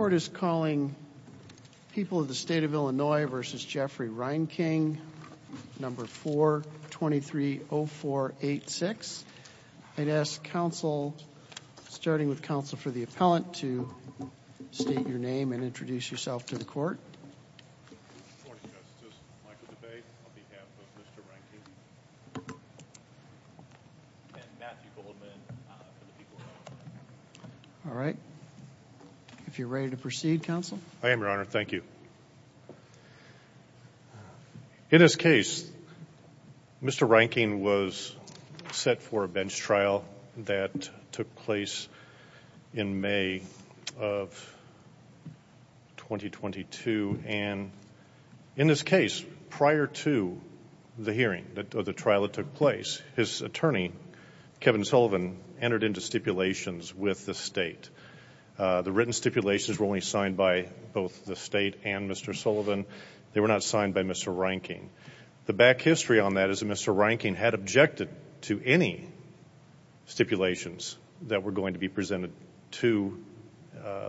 423-0486. I'd ask counsel, starting with counsel for the appellant, to state your name and Good morning, Justice. Michael DeBate on behalf of Mr. Reinking and Matthew Goldman on behalf of the people of Iowa. In this case, prior to the hearing or the trial that took place, his attorney, Kevin Sullivan, entered into stipulations with the state. The written stipulations were only signed by both the state and Mr. Sullivan. They were not signed by Mr. Reinking. The back history on that is that Mr. Reinking had objected to any stipulations that were going to be presented to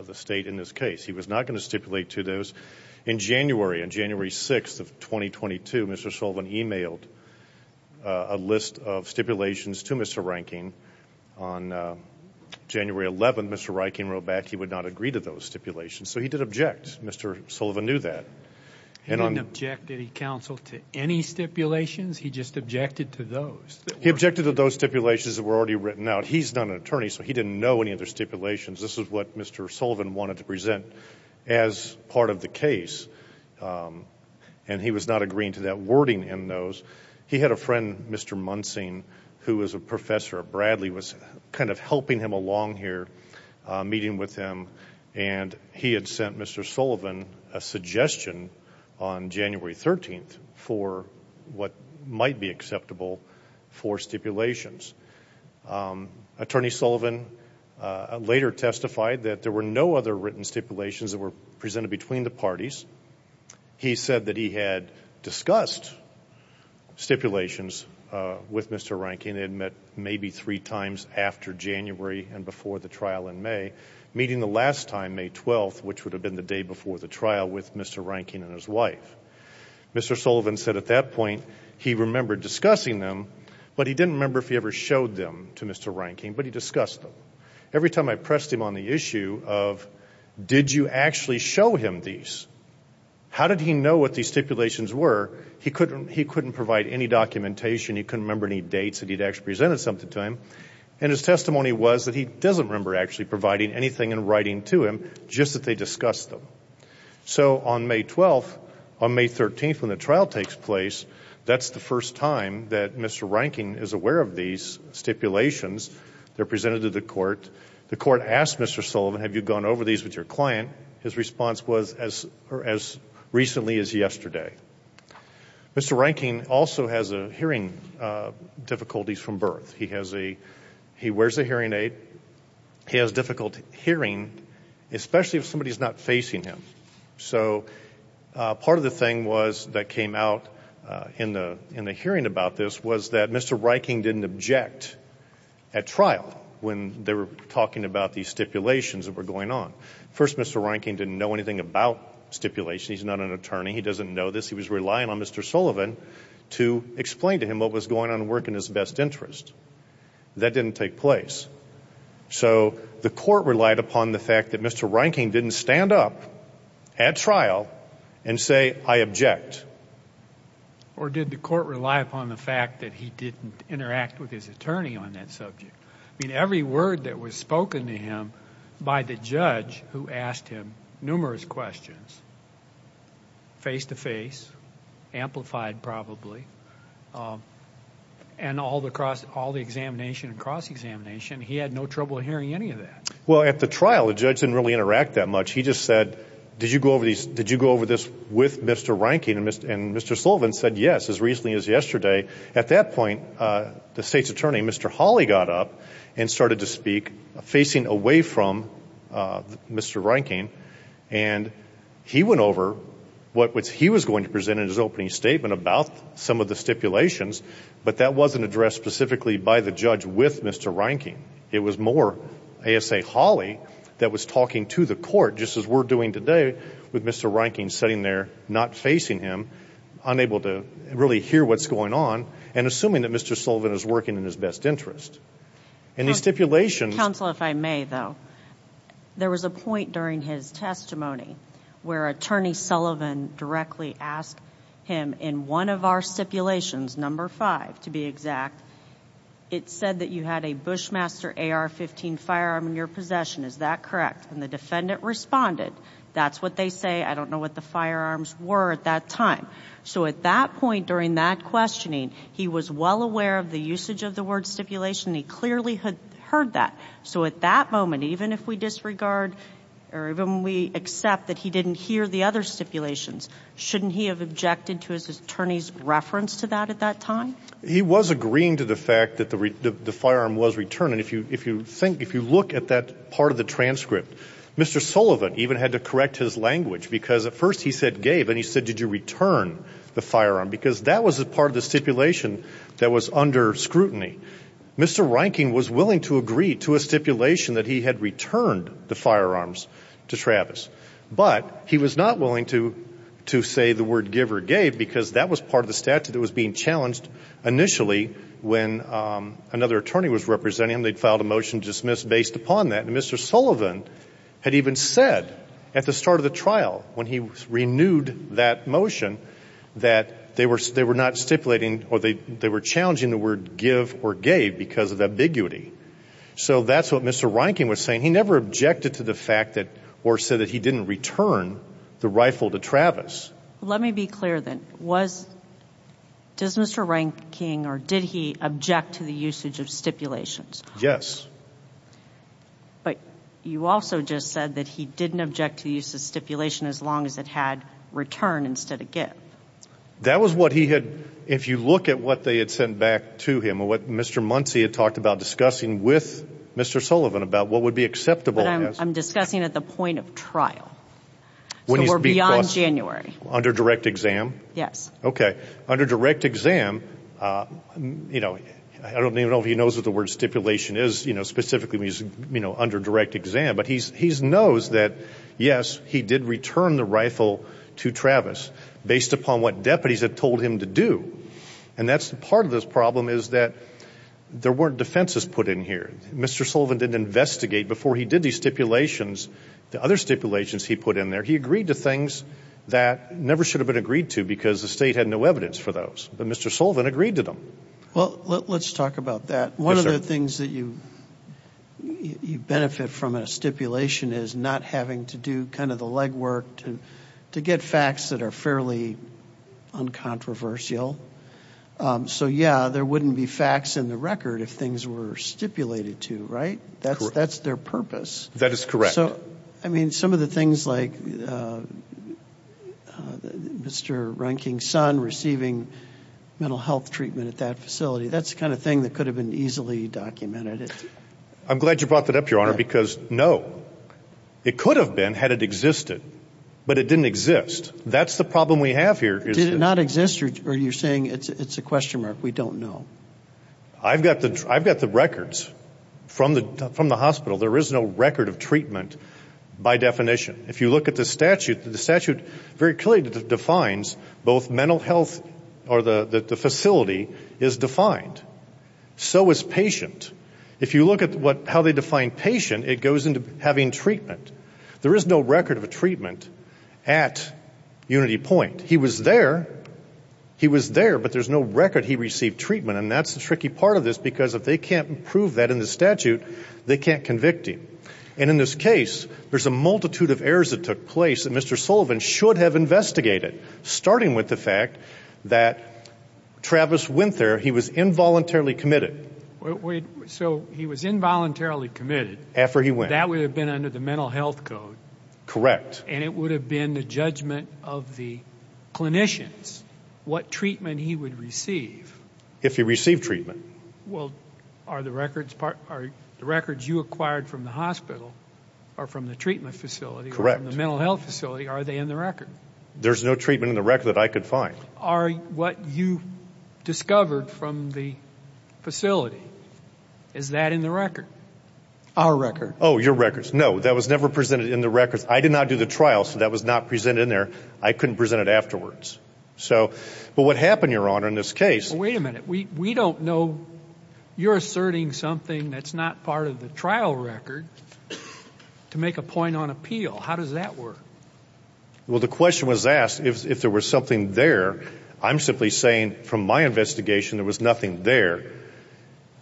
the state in this case. He was not going to stipulate to those. In January, on January 6th of 2022, Mr. Sullivan emailed a list of stipulations to Mr. Reinking. On January 11th, Mr. Reinking wrote back he would not agree to those stipulations. So he did object. Mr. Sullivan knew that. He didn't object, did he, counsel, to any stipulations? He just objected to those. He objected to those stipulations that were already written out. He's not an attorney, so he didn't know any other stipulations. This is what Mr. Sullivan wanted to present as part of the case. And he was not agreeing to that wording in those. He had a friend, Mr. Munsing, who was a professor at Bradley, was kind of helping him along here, meeting with him. And he had sent Mr. Sullivan a suggestion on January 13th for what might be acceptable for stipulations. Attorney Sullivan later testified that there were no other written stipulations that were presented between the parties. He said that he had discussed stipulations with Mr. Reinking. They had met maybe three times after January and before the trial in May, meeting the last time, May 12th, which would have been the day before the trial, with Mr. Reinking and his wife. Mr. Sullivan said at that point he remembered discussing them, but he didn't remember if he ever showed them to Mr. Reinking, but he discussed them. Every time I pressed him on the issue of did you actually show him these, how did he know what these stipulations were? He couldn't provide any documentation. He couldn't remember any dates that he'd actually presented something to him. And his testimony was that he doesn't remember actually providing anything in writing to him, just that they discussed them. So on May 12th, on May 13th, when the trial takes place, that's the first time that Mr. Reinking is aware of these stipulations. They're presented to the court. The court asked Mr. Sullivan, have you gone over these with your client? His response was as recently as yesterday. Mr. Reinking also has hearing difficulties from birth. He wears a hearing aid. He has difficult hearing, especially if somebody is not facing him. So part of the thing that came out in the hearing about this was that Mr. Reinking didn't object at trial when they were talking about these stipulations that were going on. First, Mr. Reinking didn't know anything about stipulations. He's not an attorney. He doesn't know this. He was relying on Mr. Sullivan to explain to him what was going on at work in his best interest. That didn't take place. So the court relied upon the fact that Mr. Reinking didn't stand up at trial and say, I object. Or did the court rely upon the fact that he didn't interact with his attorney on that subject? I mean, every word that was spoken to him by the judge who asked him numerous questions, face-to-face, amplified probably, and all the examination and cross-examination, he had no trouble hearing any of that. Well, at the trial, the judge didn't really interact that much. He just said, did you go over this with Mr. Reinking? And Mr. Sullivan said yes, as recently as yesterday. At that point, the state's attorney, Mr. Hawley, got up and started to speak, facing away from Mr. Reinking, and he went over what he was going to present in his opening statement about some of the stipulations, but that wasn't addressed specifically by the judge with Mr. Reinking. It was more ASA Hawley that was talking to the court, just as we're doing today, with Mr. Reinking sitting there not facing him, unable to really hear what's going on, and assuming that Mr. Sullivan is working in his best interest. And these stipulations— Counsel, if I may, though, there was a point during his testimony where Attorney Sullivan directly asked him in one of our stipulations, number five to be exact, it said that you had a Bushmaster AR-15 firearm in your possession, is that correct? And the defendant responded, that's what they say, I don't know what the firearms were at that time. So at that point during that questioning, he was well aware of the usage of the word stipulation. He clearly heard that. So at that moment, even if we disregard or even we accept that he didn't hear the other stipulations, shouldn't he have objected to his attorney's reference to that at that time? He was agreeing to the fact that the firearm was returned. And if you look at that part of the transcript, Mr. Sullivan even had to correct his language because at first he said gave and he said, did you return the firearm? Because that was a part of the stipulation that was under scrutiny. Mr. Reinking was willing to agree to a stipulation that he had returned the firearms to Travis, but he was not willing to say the word give or gave because that was part of the statute that was being challenged initially when another attorney was representing him. They filed a motion to dismiss based upon that. And Mr. Sullivan had even said at the start of the trial when he renewed that motion that they were not stipulating or they were challenging the word give or gave because of ambiguity. So that's what Mr. Reinking was saying. He never objected to the fact or said that he didn't return the rifle to Travis. Let me be clear then. Does Mr. Reinking or did he object to the usage of stipulations? Yes. But you also just said that he didn't object to the use of stipulation as long as it had return instead of give. That was what he had, if you look at what they had sent back to him or what Mr. Muncy had talked about discussing with Mr. Sullivan about what would be acceptable. I'm discussing at the point of trial. So we're beyond January. Under direct exam? Yes. Okay. Under direct exam, you know, I don't even know if he knows what the word stipulation is, you know, specifically when he's, you know, under direct exam. But he knows that, yes, he did return the rifle to Travis based upon what deputies had told him to do. And that's part of this problem is that there weren't defenses put in here. Mr. Sullivan didn't investigate. Before he did these stipulations, the other stipulations he put in there, he agreed to things that never should have been agreed to because the state had no evidence for those. But Mr. Sullivan agreed to them. Well, let's talk about that. One of the things that you benefit from in a stipulation is not having to do kind of the leg work to get facts that are fairly uncontroversial. So, yeah, there wouldn't be facts in the record if things were stipulated to, right? That's their purpose. That is correct. So, I mean, some of the things like Mr. Runking's son receiving mental health treatment at that facility, that's the kind of thing that could have been easily documented. I'm glad you brought that up, Your Honor, because, no, it could have been had it existed. But it didn't exist. That's the problem we have here. Did it not exist or are you saying it's a question mark? We don't know. I've got the records from the hospital. There is no record of treatment by definition. If you look at the statute, the statute very clearly defines both mental health or the facility is defined. So is patient. If you look at how they define patient, it goes into having treatment. There is no record of treatment at Unity Point. He was there. He was there, but there's no record he received treatment, and that's the tricky part of this because if they can't prove that in the statute, they can't convict him. And in this case, there's a multitude of errors that took place that Mr. Sullivan should have investigated, starting with the fact that Travis went there. He was involuntarily committed. So he was involuntarily committed. After he went. That would have been under the mental health code. Correct. And it would have been the judgment of the clinicians what treatment he would receive. If he received treatment. Well, are the records you acquired from the hospital or from the treatment facility or from the mental health facility, are they in the record? There's no treatment in the record that I could find. Are what you discovered from the facility, is that in the record? Our record. Oh, your records. No, that was never presented in the records. I did not do the trial, so that was not presented in there. I couldn't present it afterwards. But what happened, Your Honor, in this case. Wait a minute. We don't know. You're asserting something that's not part of the trial record to make a point on appeal. How does that work? Well, the question was asked if there was something there. I'm simply saying from my investigation, there was nothing there.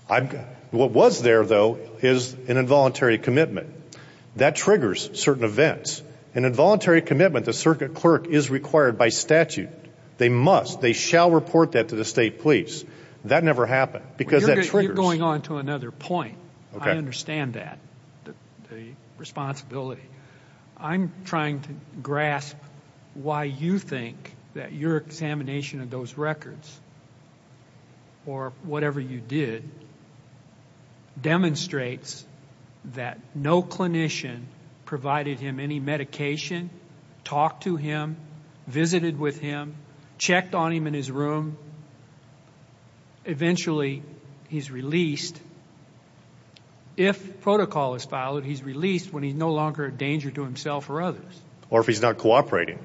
What was there, though, is an involuntary commitment. That triggers certain events. An involuntary commitment, the circuit clerk is required by statute. They must, they shall report that to the state police. That never happened because that triggers. You're going on to another point. I understand that, the responsibility. I'm trying to grasp why you think that your examination of those records, or whatever you did, demonstrates that no clinician provided him any medication, talked to him, visited with him, checked on him in his room. Eventually, he's released. If protocol is followed, he's released when he's no longer a danger to himself or others. Or if he's not cooperating.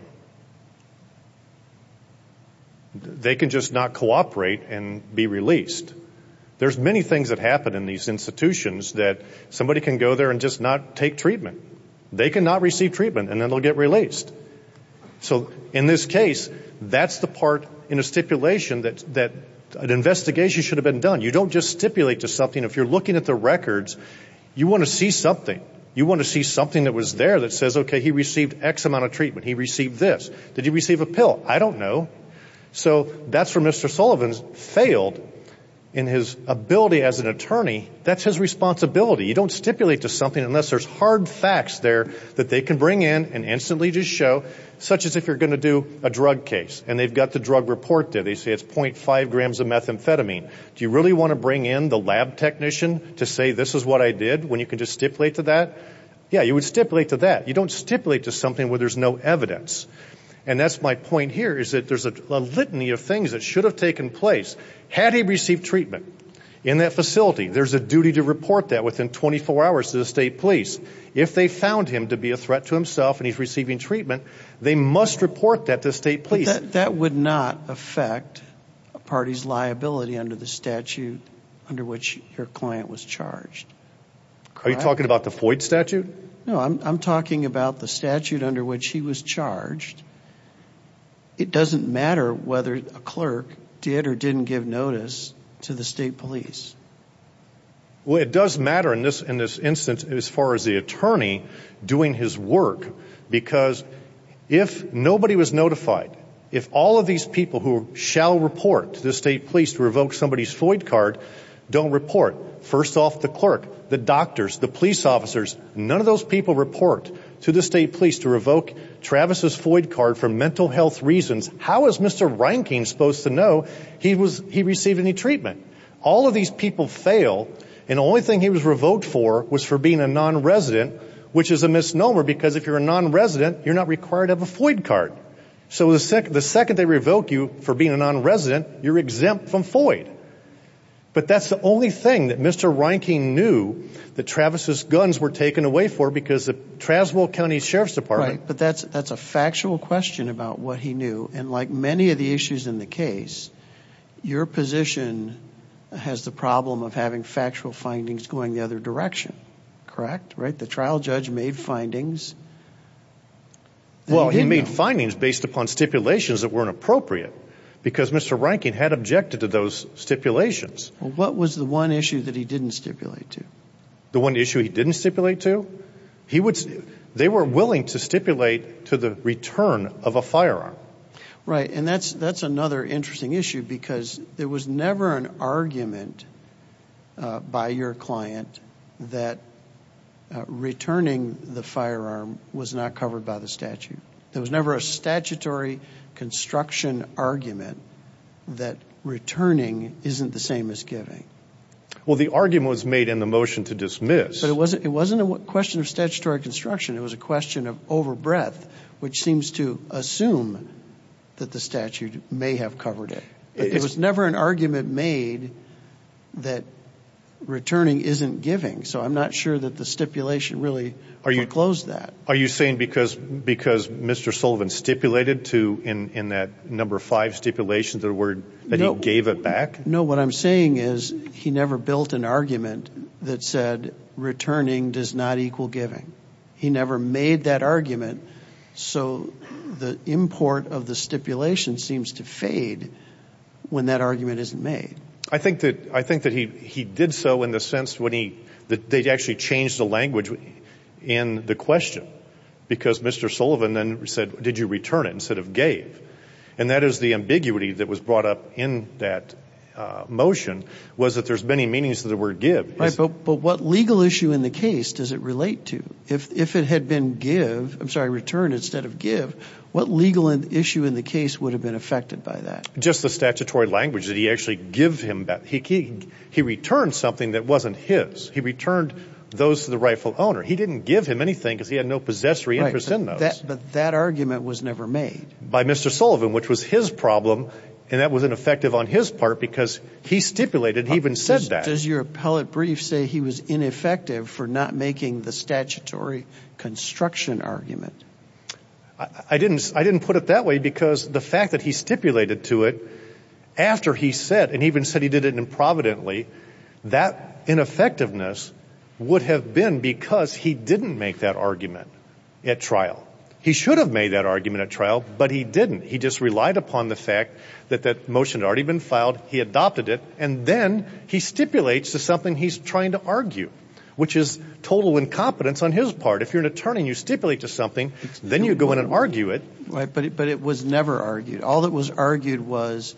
They can just not cooperate and be released. There's many things that happen in these institutions that somebody can go there and just not take treatment. They cannot receive treatment, and then they'll get released. So, in this case, that's the part in a stipulation that an investigation should have been done. You don't just stipulate to something. If you're looking at the records, you want to see something. You want to see something that was there that says, okay, he received X amount of treatment. He received this. Did he receive a pill? I don't know. So, that's where Mr. Sullivan failed in his ability as an attorney. That's his responsibility. You don't stipulate to something unless there's hard facts there that they can bring in and instantly just show, such as if you're going to do a drug case. And they've got the drug report there. They say it's .5 grams of methamphetamine. Do you really want to bring in the lab technician to say this is what I did when you can just stipulate to that? Yeah, you would stipulate to that. You don't stipulate to something where there's no evidence. And that's my point here is that there's a litany of things that should have taken place. Had he received treatment in that facility, there's a duty to report that within 24 hours to the state police. If they found him to be a threat to himself and he's receiving treatment, they must report that to the state police. That would not affect a party's liability under the statute under which your client was charged. Are you talking about the Floyd statute? No, I'm talking about the statute under which he was charged. It doesn't matter whether a clerk did or didn't give notice to the state police. Well, it does matter in this instance as far as the attorney doing his work because if nobody was notified, if all of these people who shall report to the state police to revoke somebody's Floyd card don't report, first off, the clerk, the doctors, the police officers, none of those people report to the state police to revoke Travis's Floyd card for mental health reasons. How is Mr. Reinking supposed to know he received any treatment? All of these people fail, and the only thing he was revoked for was for being a nonresident, which is a misnomer because if you're a nonresident, you're not required to have a Floyd card. So the second they revoke you for being a nonresident, you're exempt from Floyd. But that's the only thing that Mr. Reinking knew that Travis's guns were taken away for because of the Traswell County Sheriff's Department. Right, but that's a factual question about what he knew. And like many of the issues in the case, your position has the problem of having factual findings going the other direction, correct? The trial judge made findings. Well, he made findings based upon stipulations that weren't appropriate because Mr. Reinking had objected to those stipulations. What was the one issue that he didn't stipulate to? The one issue he didn't stipulate to? They were willing to stipulate to the return of a firearm. Right, and that's another interesting issue because there was never an argument by your client that returning the firearm was not covered by the statute. There was never a statutory construction argument that returning isn't the same as giving. Well, the argument was made in the motion to dismiss. But it wasn't a question of statutory construction. It was a question of over breadth, which seems to assume that the statute may have covered it. It was never an argument made that returning isn't giving. So I'm not sure that the stipulation really foreclosed that. Are you saying because Mr. Sullivan stipulated to in that number five stipulation that he gave it back? No, what I'm saying is he never built an argument that said returning does not equal giving. He never made that argument. So the import of the stipulation seems to fade when that argument isn't made. I think that he did so in the sense that they actually changed the language in the question because Mr. Sullivan then said, did you return it instead of gave. And that is the ambiguity that was brought up in that motion was that there's many meanings to the word give. But what legal issue in the case does it relate to? If it had been give, I'm sorry, return instead of give, what legal issue in the case would have been affected by that? Just the statutory language that he actually give him back. He returned something that wasn't his. He returned those to the rightful owner. He didn't give him anything because he had no possessory interest in those. But that argument was never made. By Mr. Sullivan, which was his problem, and that was ineffective on his part because he stipulated he even said that. Does your appellate brief say he was ineffective for not making the statutory construction argument? I didn't put it that way because the fact that he stipulated to it after he said and even said he did it improvidently, that ineffectiveness would have been because he didn't make that argument at trial. He should have made that argument at trial. But he didn't. He just relied upon the fact that that motion had already been filed. He adopted it. And then he stipulates to something he's trying to argue, which is total incompetence on his part. If you're an attorney, you stipulate to something. Then you go in and argue it. But it was never argued. All that was argued was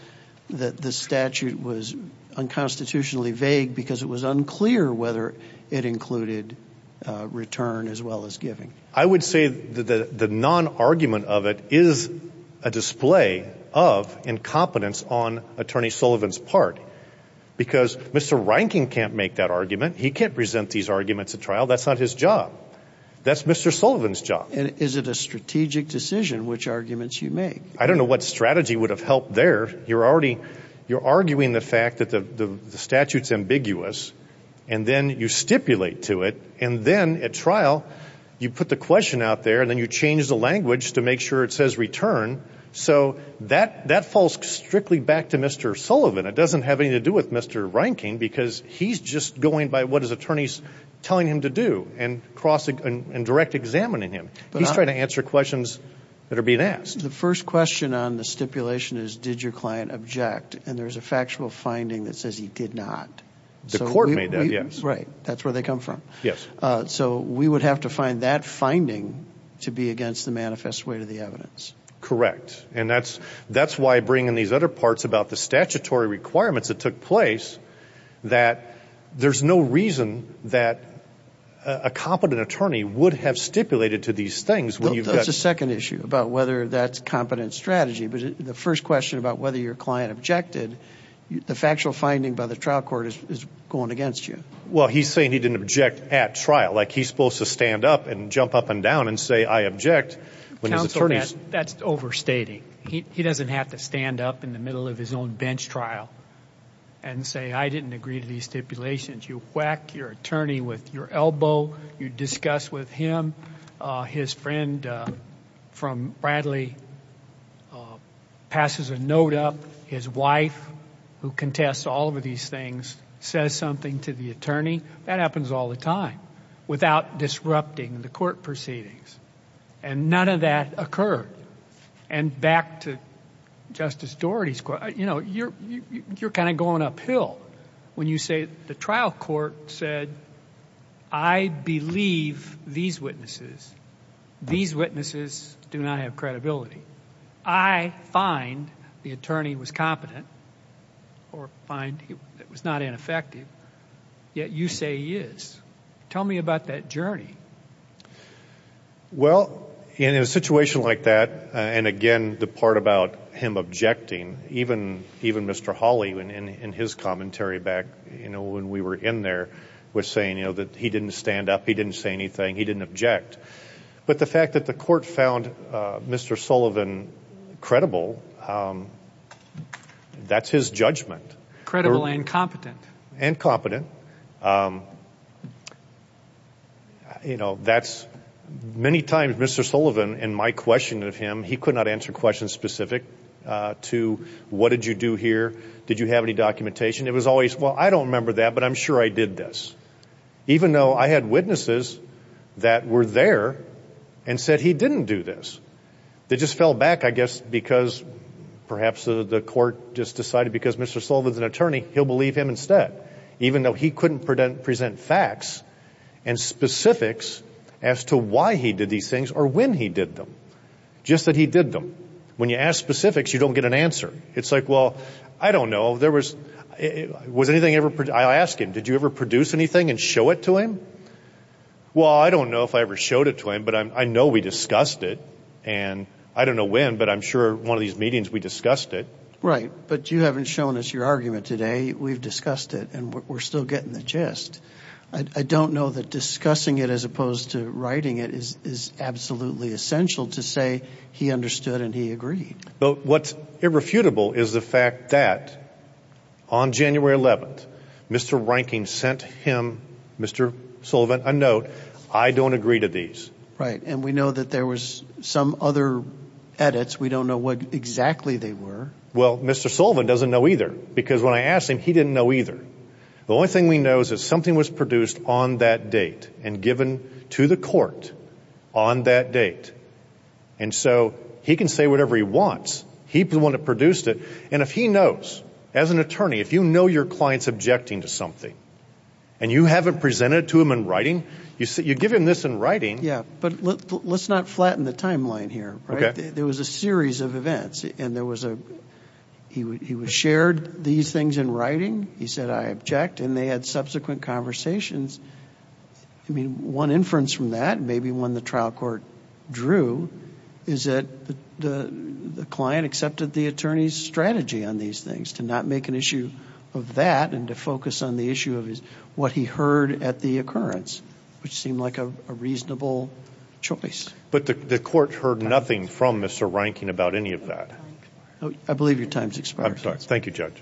that the statute was unconstitutionally vague because it was unclear whether it included return as well as giving. I would say that the non-argument of it is a display of incompetence on Attorney Sullivan's part because Mr. Reinking can't make that argument. He can't present these arguments at trial. That's not his job. That's Mr. Sullivan's job. And is it a strategic decision which arguments you make? I don't know what strategy would have helped there. You're arguing the fact that the statute is ambiguous, and then you stipulate to it. And then at trial, you put the question out there, and then you change the language to make sure it says return. So that falls strictly back to Mr. Sullivan. It doesn't have anything to do with Mr. Reinking because he's just going by what his attorney is telling him to do and direct examining him. He's trying to answer questions that are being asked. The first question on the stipulation is did your client object? And there's a factual finding that says he did not. The court made that, yes. Right. That's where they come from. Yes. So we would have to find that finding to be against the manifest way to the evidence. Correct. And that's why I bring in these other parts about the statutory requirements that took place, that there's no reason that a competent attorney would have stipulated to these things. That's the second issue about whether that's competent strategy. But the first question about whether your client objected, the factual finding by the trial court is going against you. Well, he's saying he didn't object at trial. Like, he's supposed to stand up and jump up and down and say, I object. Counsel, that's overstating. He doesn't have to stand up in the middle of his own bench trial and say, I didn't agree to these stipulations. You whack your attorney with your elbow. You discuss with him. His friend from Bradley passes a note up. His wife, who contests all of these things, says something to the attorney. That happens all the time without disrupting the court proceedings. And none of that occurred. And back to Justice Doherty's quote, you know, you're kind of going uphill when you say the trial court said, I believe these witnesses, these witnesses do not have credibility. I find the attorney was competent or find he was not ineffective, yet you say he is. Tell me about that journey. Well, in a situation like that, and, again, the part about him objecting, even Mr. Hawley in his commentary back when we were in there was saying, you know, that he didn't stand up. He didn't say anything. He didn't object. But the fact that the court found Mr. Sullivan credible, that's his judgment. Credible and competent. And competent. You know, that's many times Mr. Sullivan, in my question of him, he could not answer questions specific to what did you do here? Did you have any documentation? It was always, well, I don't remember that, but I'm sure I did this. Even though I had witnesses that were there and said he didn't do this. They just fell back, I guess, because perhaps the court just decided because Mr. Sullivan is an attorney, he'll believe him instead. But even though he couldn't present facts and specifics as to why he did these things or when he did them, just that he did them. When you ask specifics, you don't get an answer. It's like, well, I don't know, there was, was anything ever, I'll ask him, did you ever produce anything and show it to him? Well, I don't know if I ever showed it to him, but I know we discussed it. And I don't know when, but I'm sure one of these meetings we discussed it. Right. But you haven't shown us your argument today. We've discussed it and we're still getting the gist. I don't know that discussing it as opposed to writing it is absolutely essential to say he understood and he agreed. But what's irrefutable is the fact that on January 11th, Mr. Reinking sent him, Mr. Sullivan, a note, I don't agree to these. Right. And we know that there was some other edits. We don't know what exactly they were. Well, Mr. Sullivan doesn't know either, because when I asked him, he didn't know either. The only thing we know is that something was produced on that date and given to the court on that date. And so he can say whatever he wants. He's the one that produced it. And if he knows, as an attorney, if you know your client's objecting to something and you haven't presented it to him in writing, you give him this in writing. Yeah, but let's not flatten the timeline here. There was a series of events, and he shared these things in writing. He said, I object, and they had subsequent conversations. I mean, one inference from that, maybe one the trial court drew, is that the client accepted the attorney's strategy on these things, to not make an issue of that and to focus on the issue of what he heard at the occurrence, which seemed like a reasonable choice. But the court heard nothing from Mr. Reinking about any of that. I believe your time has expired. Thank you, Judge.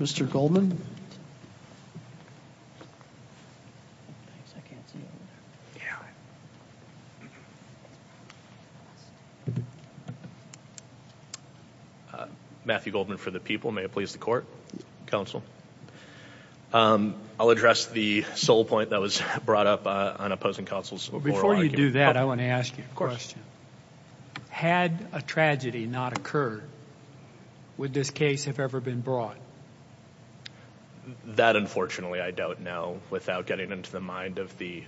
Mr. Goldman? Matthew Goldman for the people. May it please the court, counsel. I'll address the sole point that was brought up on opposing counsels. Before you do that, I want to ask you a question. Had a tragedy not occurred, would this case have ever been brought? That, unfortunately, I don't know, without getting into the mind of the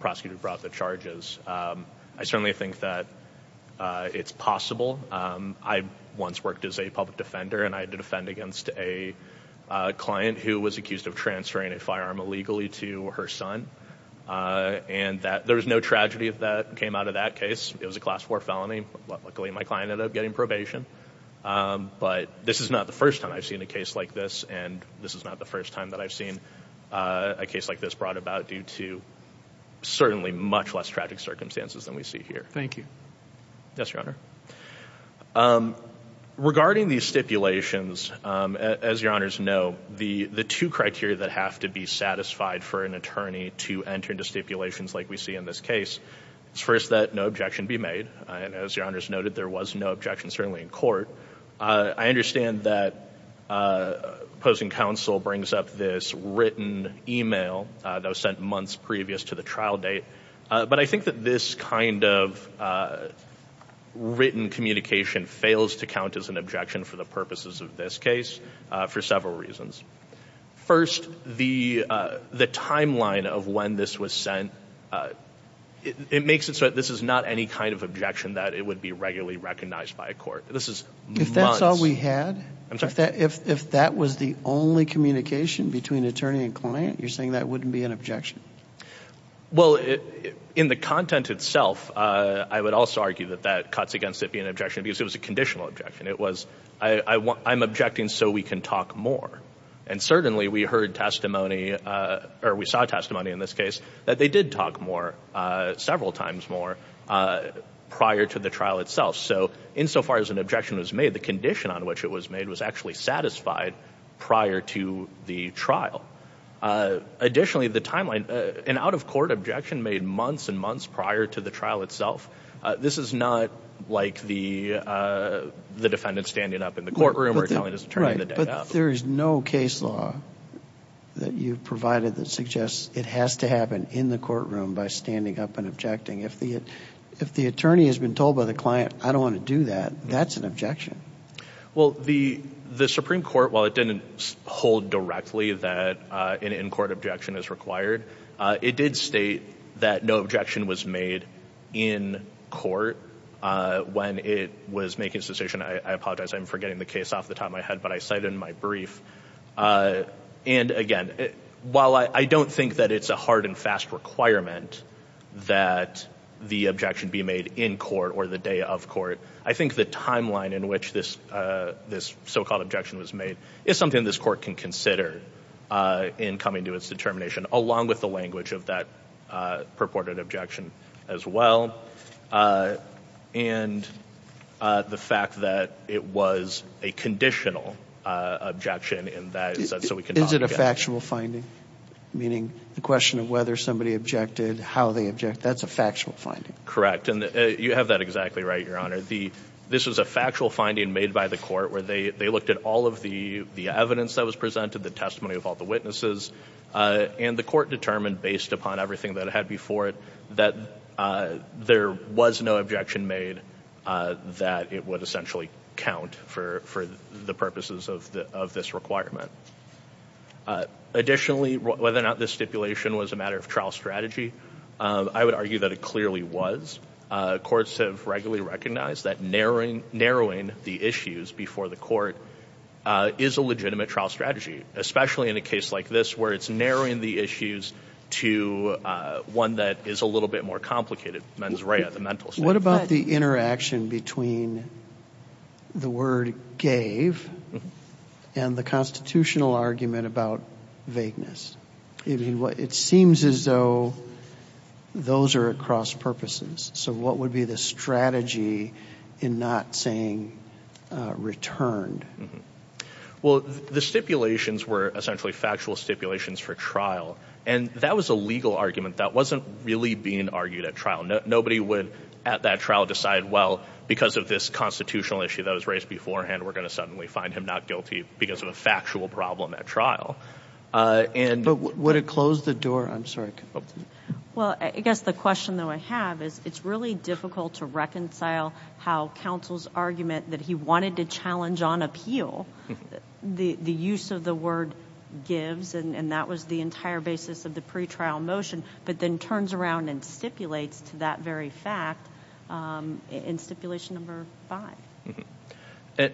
prosecutor who brought the charges. I certainly think that it's possible. I once worked as a public defender, and I had to defend against a client who was accused of transferring a firearm illegally to her son, and there was no tragedy that came out of that case. It was a Class IV felony. Luckily, my client ended up getting probation. But this is not the first time I've seen a case like this, and this is not the first time that I've seen a case like this brought about due to certainly much less tragic circumstances than we see here. Thank you. Yes, Your Honor. Regarding these stipulations, as Your Honors know, the two criteria that have to be satisfied for an attorney to enter into stipulations like we see in this case, it's first that no objection be made, and as Your Honors noted, there was no objection, certainly, in court. I understand that opposing counsel brings up this written email that was sent months previous to the trial date, but I think that this kind of written communication fails to count as an objection for the purposes of this case for several reasons. First, the timeline of when this was sent, it makes it so that this is not any kind of objection that it would be regularly recognized by a court. This is months. If that's all we had? I'm sorry? If that was the only communication between attorney and client, you're saying that wouldn't be an objection? Well, in the content itself, I would also argue that that cuts against it being an objection because it was a conditional objection. It was, I'm objecting so we can talk more, and certainly we heard testimony, or we saw testimony in this case, that they did talk more, several times more, prior to the trial itself. So insofar as an objection was made, the condition on which it was made was actually satisfied prior to the trial. Additionally, the timeline, an out-of-court objection made months and months prior to the trial itself, this is not like the defendant standing up in the courtroom or telling his attorney the day of. Right, but there is no case law that you've provided that suggests it has to happen in the courtroom by standing up and objecting. If the attorney has been told by the client, I don't want to do that, that's an objection. Well, the Supreme Court, while it didn't hold directly that an in-court objection is required, it did state that no objection was made in court when it was making its decision. I apologize, I'm forgetting the case off the top of my head, but I cite it in my brief. And again, while I don't think that it's a hard and fast requirement that the objection be made in court or the day of court, I think the timeline in which this so-called objection was made is something this court can consider in coming to its determination, along with the language of that purported objection as well, and the fact that it was a conditional objection. Is it a factual finding, meaning the question of whether somebody objected, how they objected, that's a factual finding? Correct, and you have that exactly right, Your Honor. This was a factual finding made by the court where they looked at all of the evidence that was presented, the testimony of all the witnesses, and the court determined, based upon everything that it had before it, that there was no objection made that it would essentially count for the purposes of this requirement. Additionally, whether or not this stipulation was a matter of trial strategy, I would argue that it clearly was. Courts have regularly recognized that narrowing the issues before the court is a legitimate trial strategy, especially in a case like this where it's narrowing the issues to one that is a little bit more complicated, mens rea, the mental state. What about the interaction between the word gave and the constitutional argument about vagueness? It seems as though those are at cross purposes, so what would be the strategy in not saying returned? Well, the stipulations were essentially factual stipulations for trial, and that was a legal argument that wasn't really being argued at trial. Nobody would at that trial decide, well, because of this constitutional issue that was raised beforehand, we're going to suddenly find him not guilty because of a factual problem at trial. But would it close the door? I'm sorry. Well, I guess the question that I have is it's really difficult to reconcile how counsel's argument that he wanted to challenge on appeal, the use of the word gives, and that was the entire basis of the pretrial motion, but then turns around and stipulates to that very fact in stipulation number five.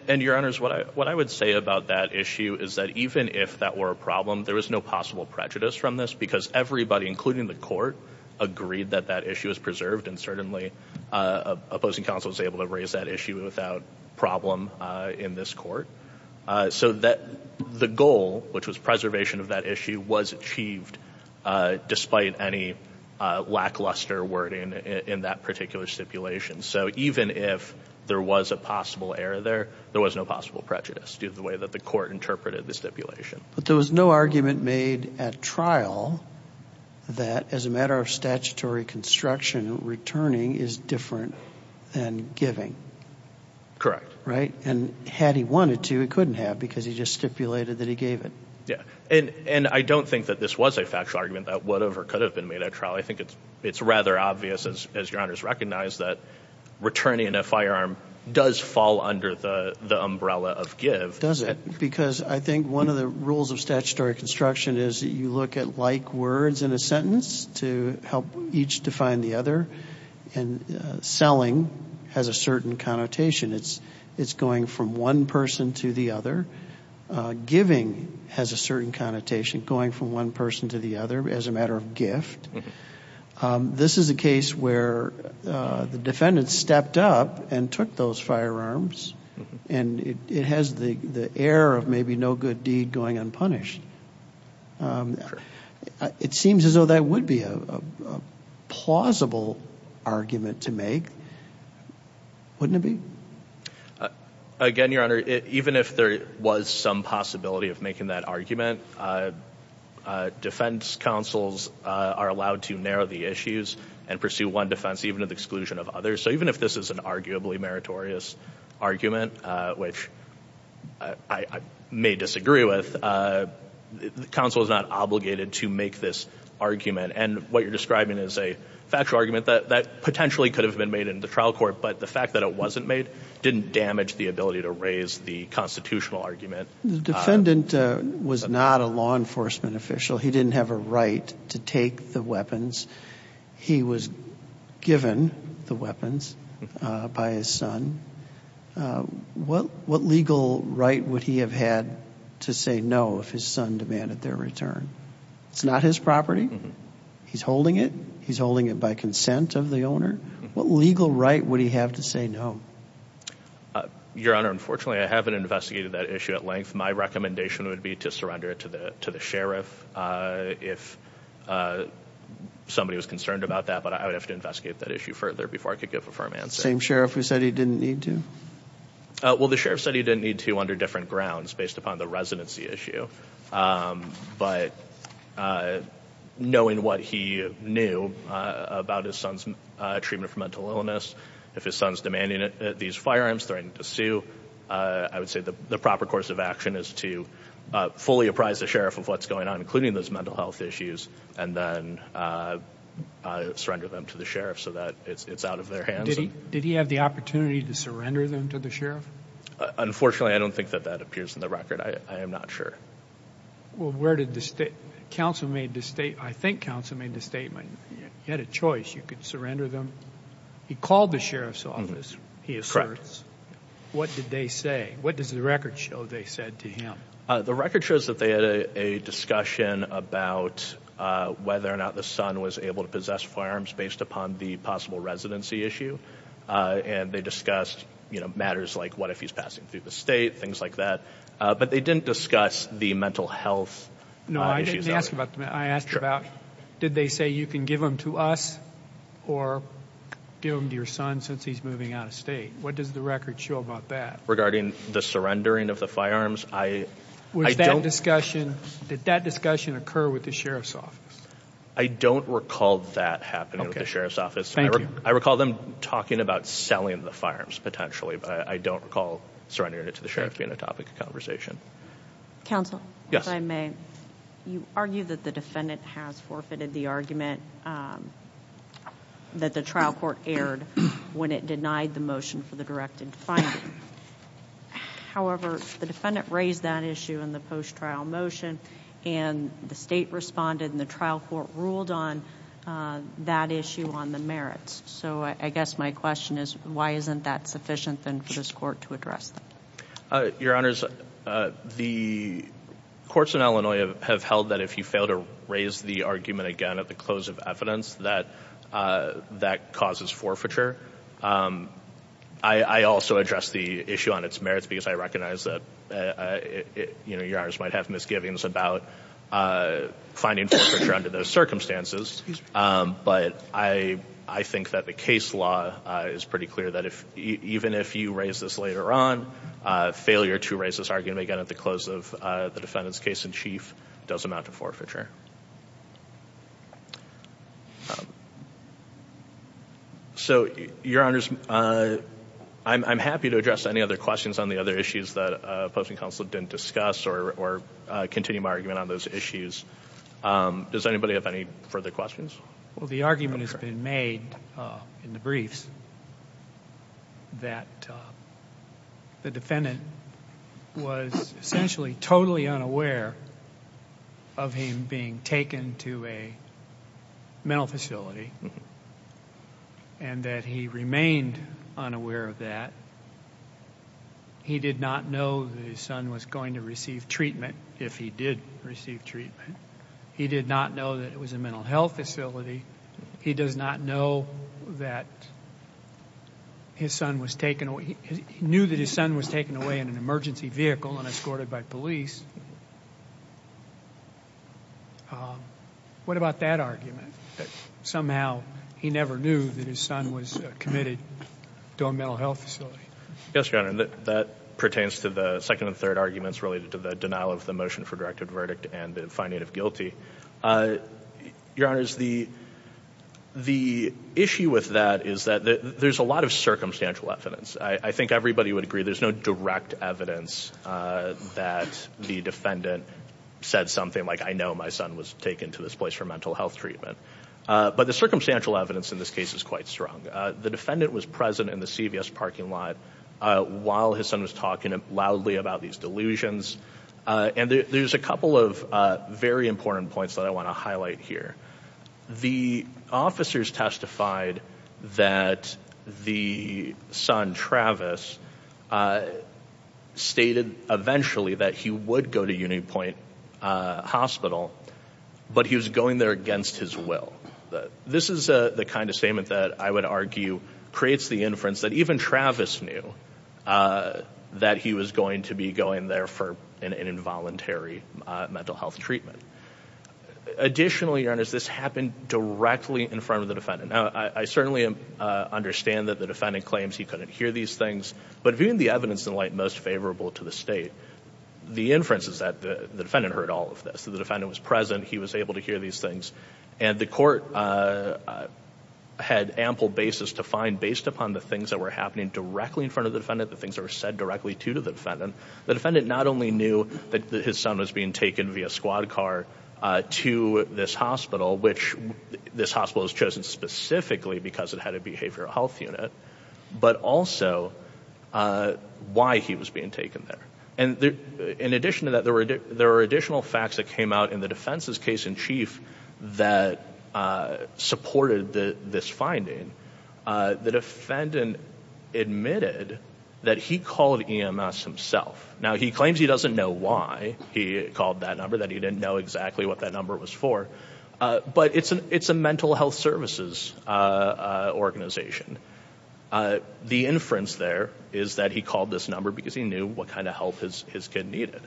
And, Your Honors, what I would say about that issue is that even if that were a problem, there was no possible prejudice from this because everybody, including the court, agreed that that issue is preserved, and certainly opposing counsel was able to raise that issue without problem in this court. So the goal, which was preservation of that issue, was achieved despite any lackluster wording in that particular stipulation. So even if there was a possible error there, there was no possible prejudice due to the way that the court interpreted the stipulation. But there was no argument made at trial that as a matter of statutory construction, returning is different than giving. Correct. Right? And had he wanted to, he couldn't have because he just stipulated that he gave it. Yeah. And I don't think that this was a factual argument that would have or could have been made at trial. I think it's rather obvious, as Your Honors recognize, that returning in a firearm does fall under the umbrella of give. Does it? Because I think one of the rules of statutory construction is you look at like words in a sentence to help each define the other, and selling has a certain connotation. It's going from one person to the other. Giving has a certain connotation, going from one person to the other as a matter of gift. This is a case where the defendant stepped up and took those firearms, and it has the error of maybe no good deed going unpunished. Sure. It seems as though that would be a plausible argument to make, wouldn't it be? Again, Your Honor, even if there was some possibility of making that argument, defense counsels are allowed to narrow the issues and pursue one defense even with exclusion of others. So even if this is an arguably meritorious argument, which I may disagree with, counsel is not obligated to make this argument. And what you're describing is a factual argument that potentially could have been made in the trial court, but the fact that it wasn't made didn't damage the ability to raise the constitutional argument. The defendant was not a law enforcement official. He didn't have a right to take the weapons. He was given the weapons by his son. What legal right would he have had to say no if his son demanded their return? It's not his property. He's holding it. He's holding it by consent of the owner. What legal right would he have to say no? My recommendation would be to surrender it to the sheriff if somebody was concerned about that, but I would have to investigate that issue further before I could give a firm answer. The same sheriff who said he didn't need to? Well, the sheriff said he didn't need to under different grounds based upon the residency issue. But knowing what he knew about his son's treatment for mental illness, if his son's demanding these firearms, threatening to sue, I would say the proper course of action is to fully apprise the sheriff of what's going on, including those mental health issues, and then surrender them to the sheriff so that it's out of their hands. Did he have the opportunity to surrender them to the sheriff? Unfortunately, I don't think that that appears in the record. I am not sure. Well, where did the state council made the statement? I think council made the statement. He had a choice. You could surrender them. He called the sheriff's office, he asserts. Correct. What did they say? What does the record show they said to him? The record shows that they had a discussion about whether or not the son was able to possess firearms based upon the possible residency issue, and they discussed matters like what if he's passing through the state, things like that, but they didn't discuss the mental health issues. I asked about did they say you can give them to us or give them to your son since he's moving out of state? What does the record show about that? Regarding the surrendering of the firearms, I don't. Did that discussion occur with the sheriff's office? I don't recall that happening with the sheriff's office. I recall them talking about selling the firearms potentially, but I don't recall surrendering it to the sheriff being a topic of conversation. Counsel? Yes. Your Honor, if I may, you argue that the defendant has forfeited the argument that the trial court aired when it denied the motion for the direct infinement. However, the defendant raised that issue in the post-trial motion, and the state responded, and the trial court ruled on that issue on the merits. So I guess my question is why isn't that sufficient then for this court to address that? Your Honors, the courts in Illinois have held that if you fail to raise the argument again at the close of evidence, that that causes forfeiture. I also address the issue on its merits because I recognize that, you know, your Honors might have misgivings about finding forfeiture under those circumstances, but I think that the case law is pretty clear that even if you raise this later on, failure to raise this argument again at the close of the defendant's case in chief does amount to forfeiture. So, Your Honors, I'm happy to address any other questions on the other issues that opposing counsel didn't discuss or continue my argument on those issues. Does anybody have any further questions? Well, the argument has been made in the briefs that the defendant was essentially totally unaware of him being taken to a mental facility and that he remained unaware of that. He did not know that his son was going to receive treatment if he did receive treatment. He did not know that it was a mental health facility. He does not know that his son was taken away. He knew that his son was taken away in an emergency vehicle and escorted by police. What about that argument, that somehow he never knew that his son was committed to a mental health facility? Yes, Your Honor, that pertains to the second and third arguments related to the denial of the motion for directed verdict and the finding of guilty. Your Honors, the issue with that is that there's a lot of circumstantial evidence. I think everybody would agree there's no direct evidence that the defendant said something like, I know my son was taken to this place for mental health treatment. But the circumstantial evidence in this case is quite strong. The defendant was present in the CVS parking lot while his son was talking loudly about these delusions. And there's a couple of very important points that I want to highlight here. The officers testified that the son, Travis, stated eventually that he would go to Union Point Hospital, but he was going there against his will. This is the kind of statement that I would argue creates the inference that even Travis knew that he was going to be going there for an involuntary mental health treatment. Additionally, Your Honors, this happened directly in front of the defendant. Now, I certainly understand that the defendant claims he couldn't hear these things, but viewing the evidence in light most favorable to the State, the inference is that the defendant heard all of this. The defendant was present. He was able to hear these things. And the court had ample basis to find, based upon the things that were happening directly in front of the defendant, the things that were said directly to the defendant, the defendant not only knew that his son was being taken via squad car to this hospital, which this hospital was chosen specifically because it had a behavioral health unit, but also why he was being taken there. And in addition to that, there were additional facts that came out in the defense's case in chief that supported this finding. The defendant admitted that he called EMS himself. Now, he claims he doesn't know why he called that number, that he didn't know exactly what that number was for, but it's a mental health services organization. The inference there is that he called this number because he knew what kind of help his kid needed.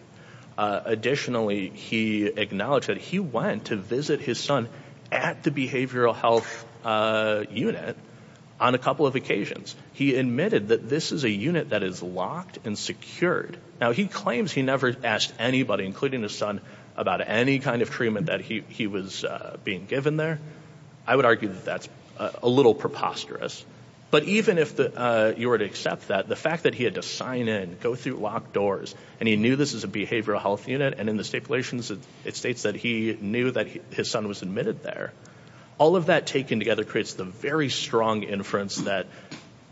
Additionally, he acknowledged that he went to visit his son at the behavioral health unit on a couple of occasions. He admitted that this is a unit that is locked and secured. Now, he claims he never asked anybody, including his son, about any kind of treatment that he was being given there. I would argue that that's a little preposterous. But even if you were to accept that, the fact that he had to sign in, go through locked doors, and he knew this is a behavioral health unit, and in the stipulations it states that he knew that his son was admitted there, all of that taken together creates the very strong inference that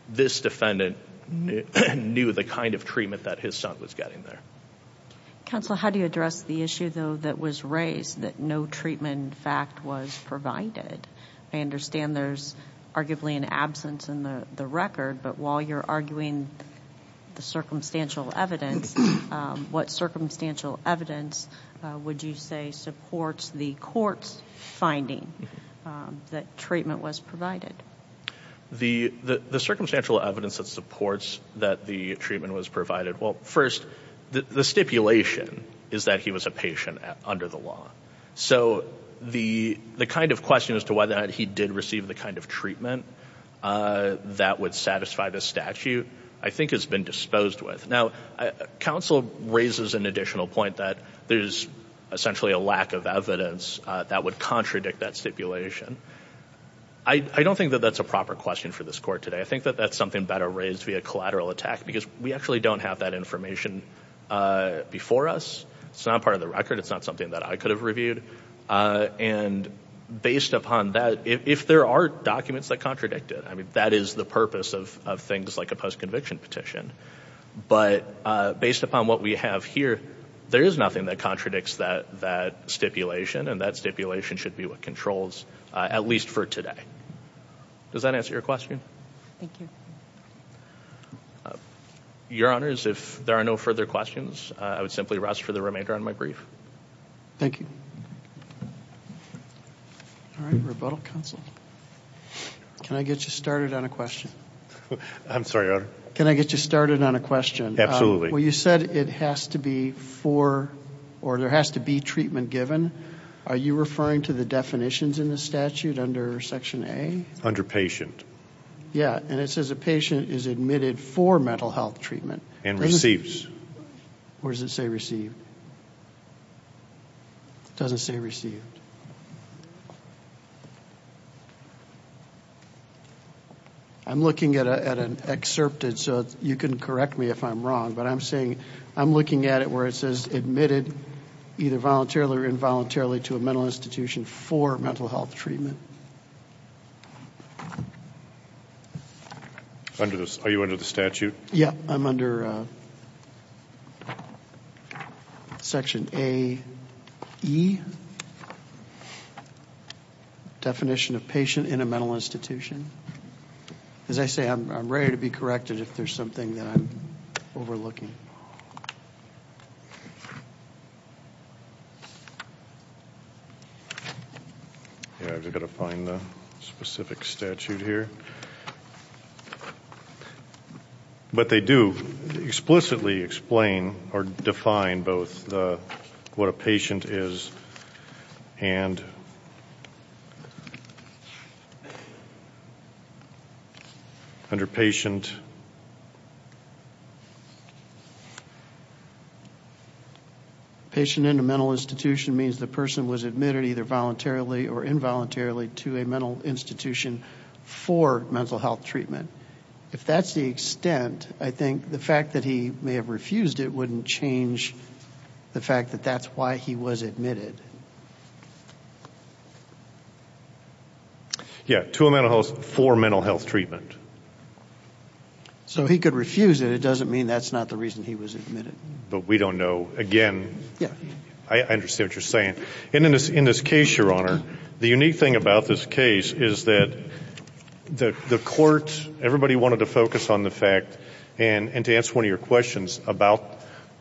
this defendant knew the kind of treatment that his son was getting there. Counsel, how do you address the issue, though, that was raised, that no treatment, in fact, was provided? I understand there's arguably an absence in the record, but while you're arguing the circumstantial evidence, what circumstantial evidence would you say supports the court's finding that treatment was provided? The circumstantial evidence that supports that the treatment was provided, well, first, the stipulation is that he was a patient under the law. So the kind of question as to whether or not he did receive the kind of treatment that would satisfy the statute I think has been disposed with. Now, counsel raises an additional point that there's essentially a lack of evidence that would contradict that stipulation. I don't think that that's a proper question for this court today. I think that that's something better raised via collateral attack because we actually don't have that information before us. It's not part of the record. It's not something that I could have reviewed. And based upon that, if there are documents that contradict it, I mean, that is the purpose of things like a post-conviction petition. But based upon what we have here, there is nothing that contradicts that stipulation, and that stipulation should be what controls, at least for today. Does that answer your question? Thank you. Your Honors, if there are no further questions, I would simply rest for the remainder of my brief. Thank you. All right, rebuttal, counsel. Can I get you started on a question? I'm sorry, Your Honor. Can I get you started on a question? Absolutely. Well, you said it has to be for or there has to be treatment given. Are you referring to the definitions in the statute under Section A? Under patient. Yeah, and it says a patient is admitted for mental health treatment. And receives. Or does it say received? It doesn't say received. I'm looking at an excerpted, so you can correct me if I'm wrong. I'm looking at it where it says admitted either voluntarily or involuntarily to a mental institution for mental health treatment. Are you under the statute? Yeah, I'm under Section A.E. Definition of patient in a mental institution. As I say, I'm ready to be corrected if there's something that I'm overlooking. Yeah, I've got to find the specific statute here. But they do explicitly explain or define both what a patient is and under patient. Patient in a mental institution means the person was admitted either voluntarily or involuntarily to a mental institution for mental health treatment. If that's the extent, I think the fact that he may have refused it wouldn't change the fact that that's why he was admitted. Yeah, to a mental health for mental health treatment. So he could refuse it. It doesn't mean that's not the reason he was admitted. But we don't know. Again, I understand what you're saying. In this case, Your Honor, the unique thing about this case is that the court, everybody wanted to focus on the fact, and to answer one of your questions about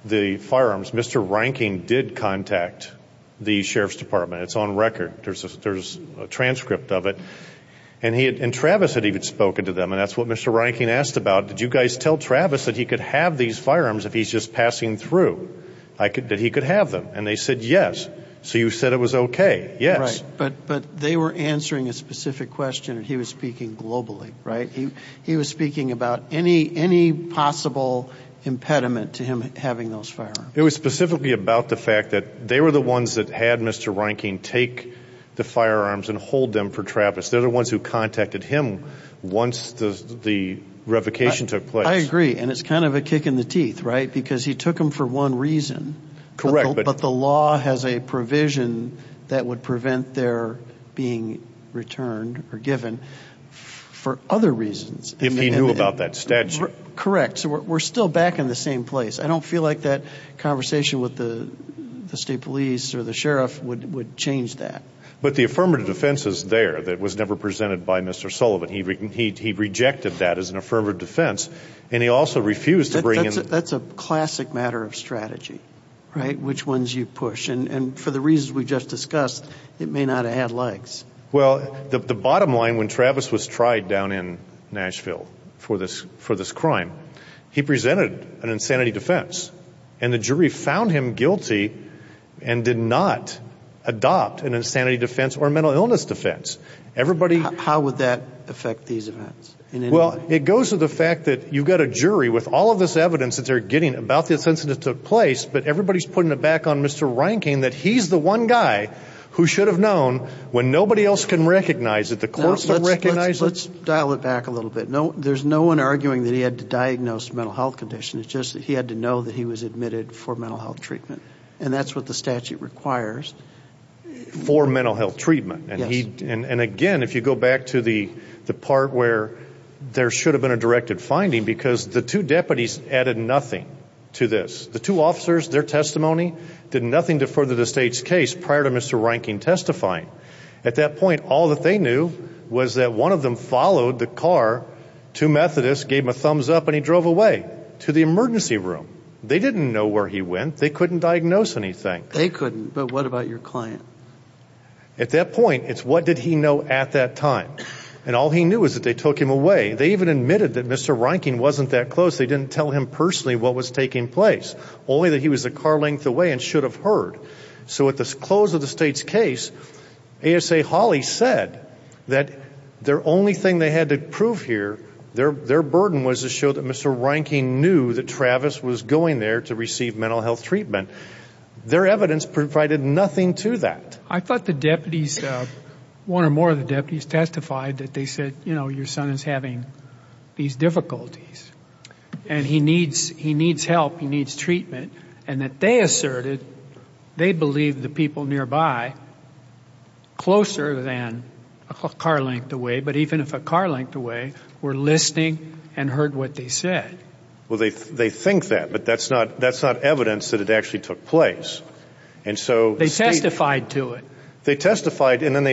the firearms, Mr. Reinking did contact the Sheriff's Department. It's on record. There's a transcript of it. And Travis had even spoken to them, and that's what Mr. Reinking asked about. Did you guys tell Travis that he could have these firearms if he's just passing through, that he could have them? And they said yes. So you said it was okay. Yes. Right. But they were answering a specific question, and he was speaking globally, right? He was speaking about any possible impediment to him having those firearms. It was specifically about the fact that they were the ones that had Mr. Reinking take the firearms and hold them for Travis. They're the ones who contacted him once the revocation took place. I agree, and it's kind of a kick in the teeth, right? Because he took them for one reason. Correct. But the law has a provision that would prevent their being returned or given for other reasons. If he knew about that statute. Correct. So we're still back in the same place. I don't feel like that conversation with the state police or the sheriff would change that. But the affirmative defense is there that was never presented by Mr. Sullivan. He rejected that as an affirmative defense, and he also refused to bring in— That's a classic matter of strategy, right, which ones you push. And for the reasons we just discussed, it may not have had legs. Well, the bottom line, when Travis was tried down in Nashville for this crime, he presented an insanity defense. And the jury found him guilty and did not adopt an insanity defense or a mental illness defense. Everybody— How would that affect these events in any way? Well, it goes to the fact that you've got a jury with all of this evidence that they're getting about this incident that took place, but everybody's putting it back on Mr. Reinking that he's the one guy who should have known when nobody else can recognize it. The courts don't recognize it. Let's dial it back a little bit. There's no one arguing that he had to diagnose a mental health condition. It's just that he had to know that he was admitted for mental health treatment, and that's what the statute requires. For mental health treatment. Yes. And, again, if you go back to the part where there should have been a directed finding, because the two deputies added nothing to this. The two officers, their testimony did nothing to further the state's case prior to Mr. Reinking testifying. At that point, all that they knew was that one of them followed the car to Methodist, gave him a thumbs-up, and he drove away to the emergency room. They didn't know where he went. They couldn't diagnose anything. They couldn't. But what about your client? At that point, it's what did he know at that time. And all he knew was that they took him away. They even admitted that Mr. Reinking wasn't that close. They didn't tell him personally what was taking place, only that he was a car length away and should have heard. So at the close of the state's case, ASA Hawley said that their only thing they had to prove here, their burden was to show that Mr. Reinking knew that Travis was going there to receive mental health treatment. Their evidence provided nothing to that. I thought the deputies, one or more of the deputies, testified that they said, you know, your son is having these difficulties, and he needs help, he needs treatment, and that they asserted they believed the people nearby closer than a car length away, but even if a car length away, were listening and heard what they said. Well, they think that, but that's not evidence that it actually took place. They testified to it. They testified, and then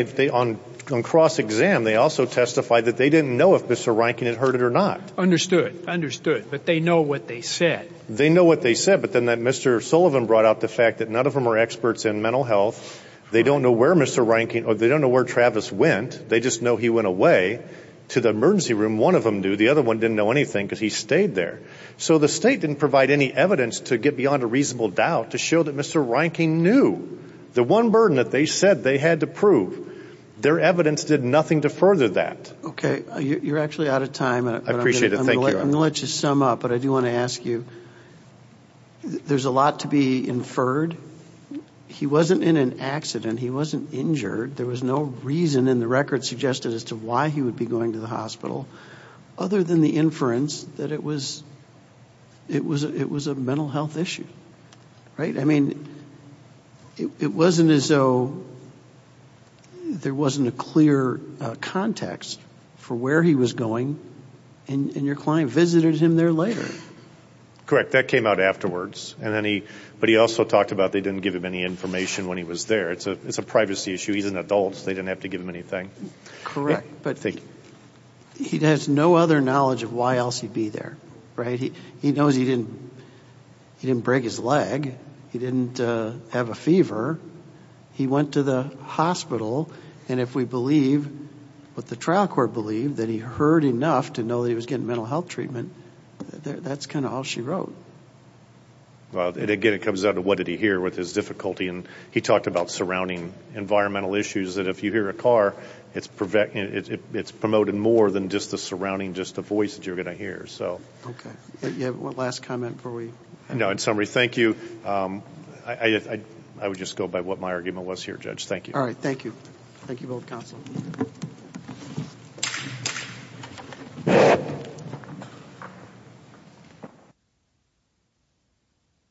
on cross-exam, they also testified that they didn't know if Mr. Reinking had heard it or not. Understood, understood, but they know what they said. They know what they said, but then that Mr. Sullivan brought out the fact that none of them are experts in mental health. They don't know where Mr. Reinking, or they don't know where Travis went. They just know he went away to the emergency room. One of them knew, the other one didn't know anything because he stayed there. So the state didn't provide any evidence to get beyond a reasonable doubt to show that Mr. Reinking knew. The one burden that they said they had to prove, their evidence did nothing to further that. Okay. You're actually out of time. I appreciate it. Thank you. I'm going to let you sum up, but I do want to ask you, there's a lot to be inferred. He wasn't in an accident. He wasn't injured. There was no reason in the record suggested as to why he would be going to the hospital, other than the inference that it was a mental health issue, right? I mean, it wasn't as though there wasn't a clear context for where he was going. And your client visited him there later. Correct. That came out afterwards. But he also talked about they didn't give him any information when he was there. It's a privacy issue. He's an adult. They didn't have to give him anything. Correct. But he has no other knowledge of why else he'd be there, right? He knows he didn't break his leg. He didn't have a fever. He went to the hospital. And if we believe what the trial court believed, that he heard enough to know that he was getting mental health treatment, that's kind of all she wrote. Well, again, it comes down to what did he hear with his difficulty. And he talked about surrounding environmental issues, that if you hear a car, it's promoted more than just the surrounding, just the voice that you're going to hear. Okay. Do you have one last comment before we end? No. In summary, thank you. I would just go by what my argument was here, Judge. Thank you. All right. Thank you. Thank you, both counsel.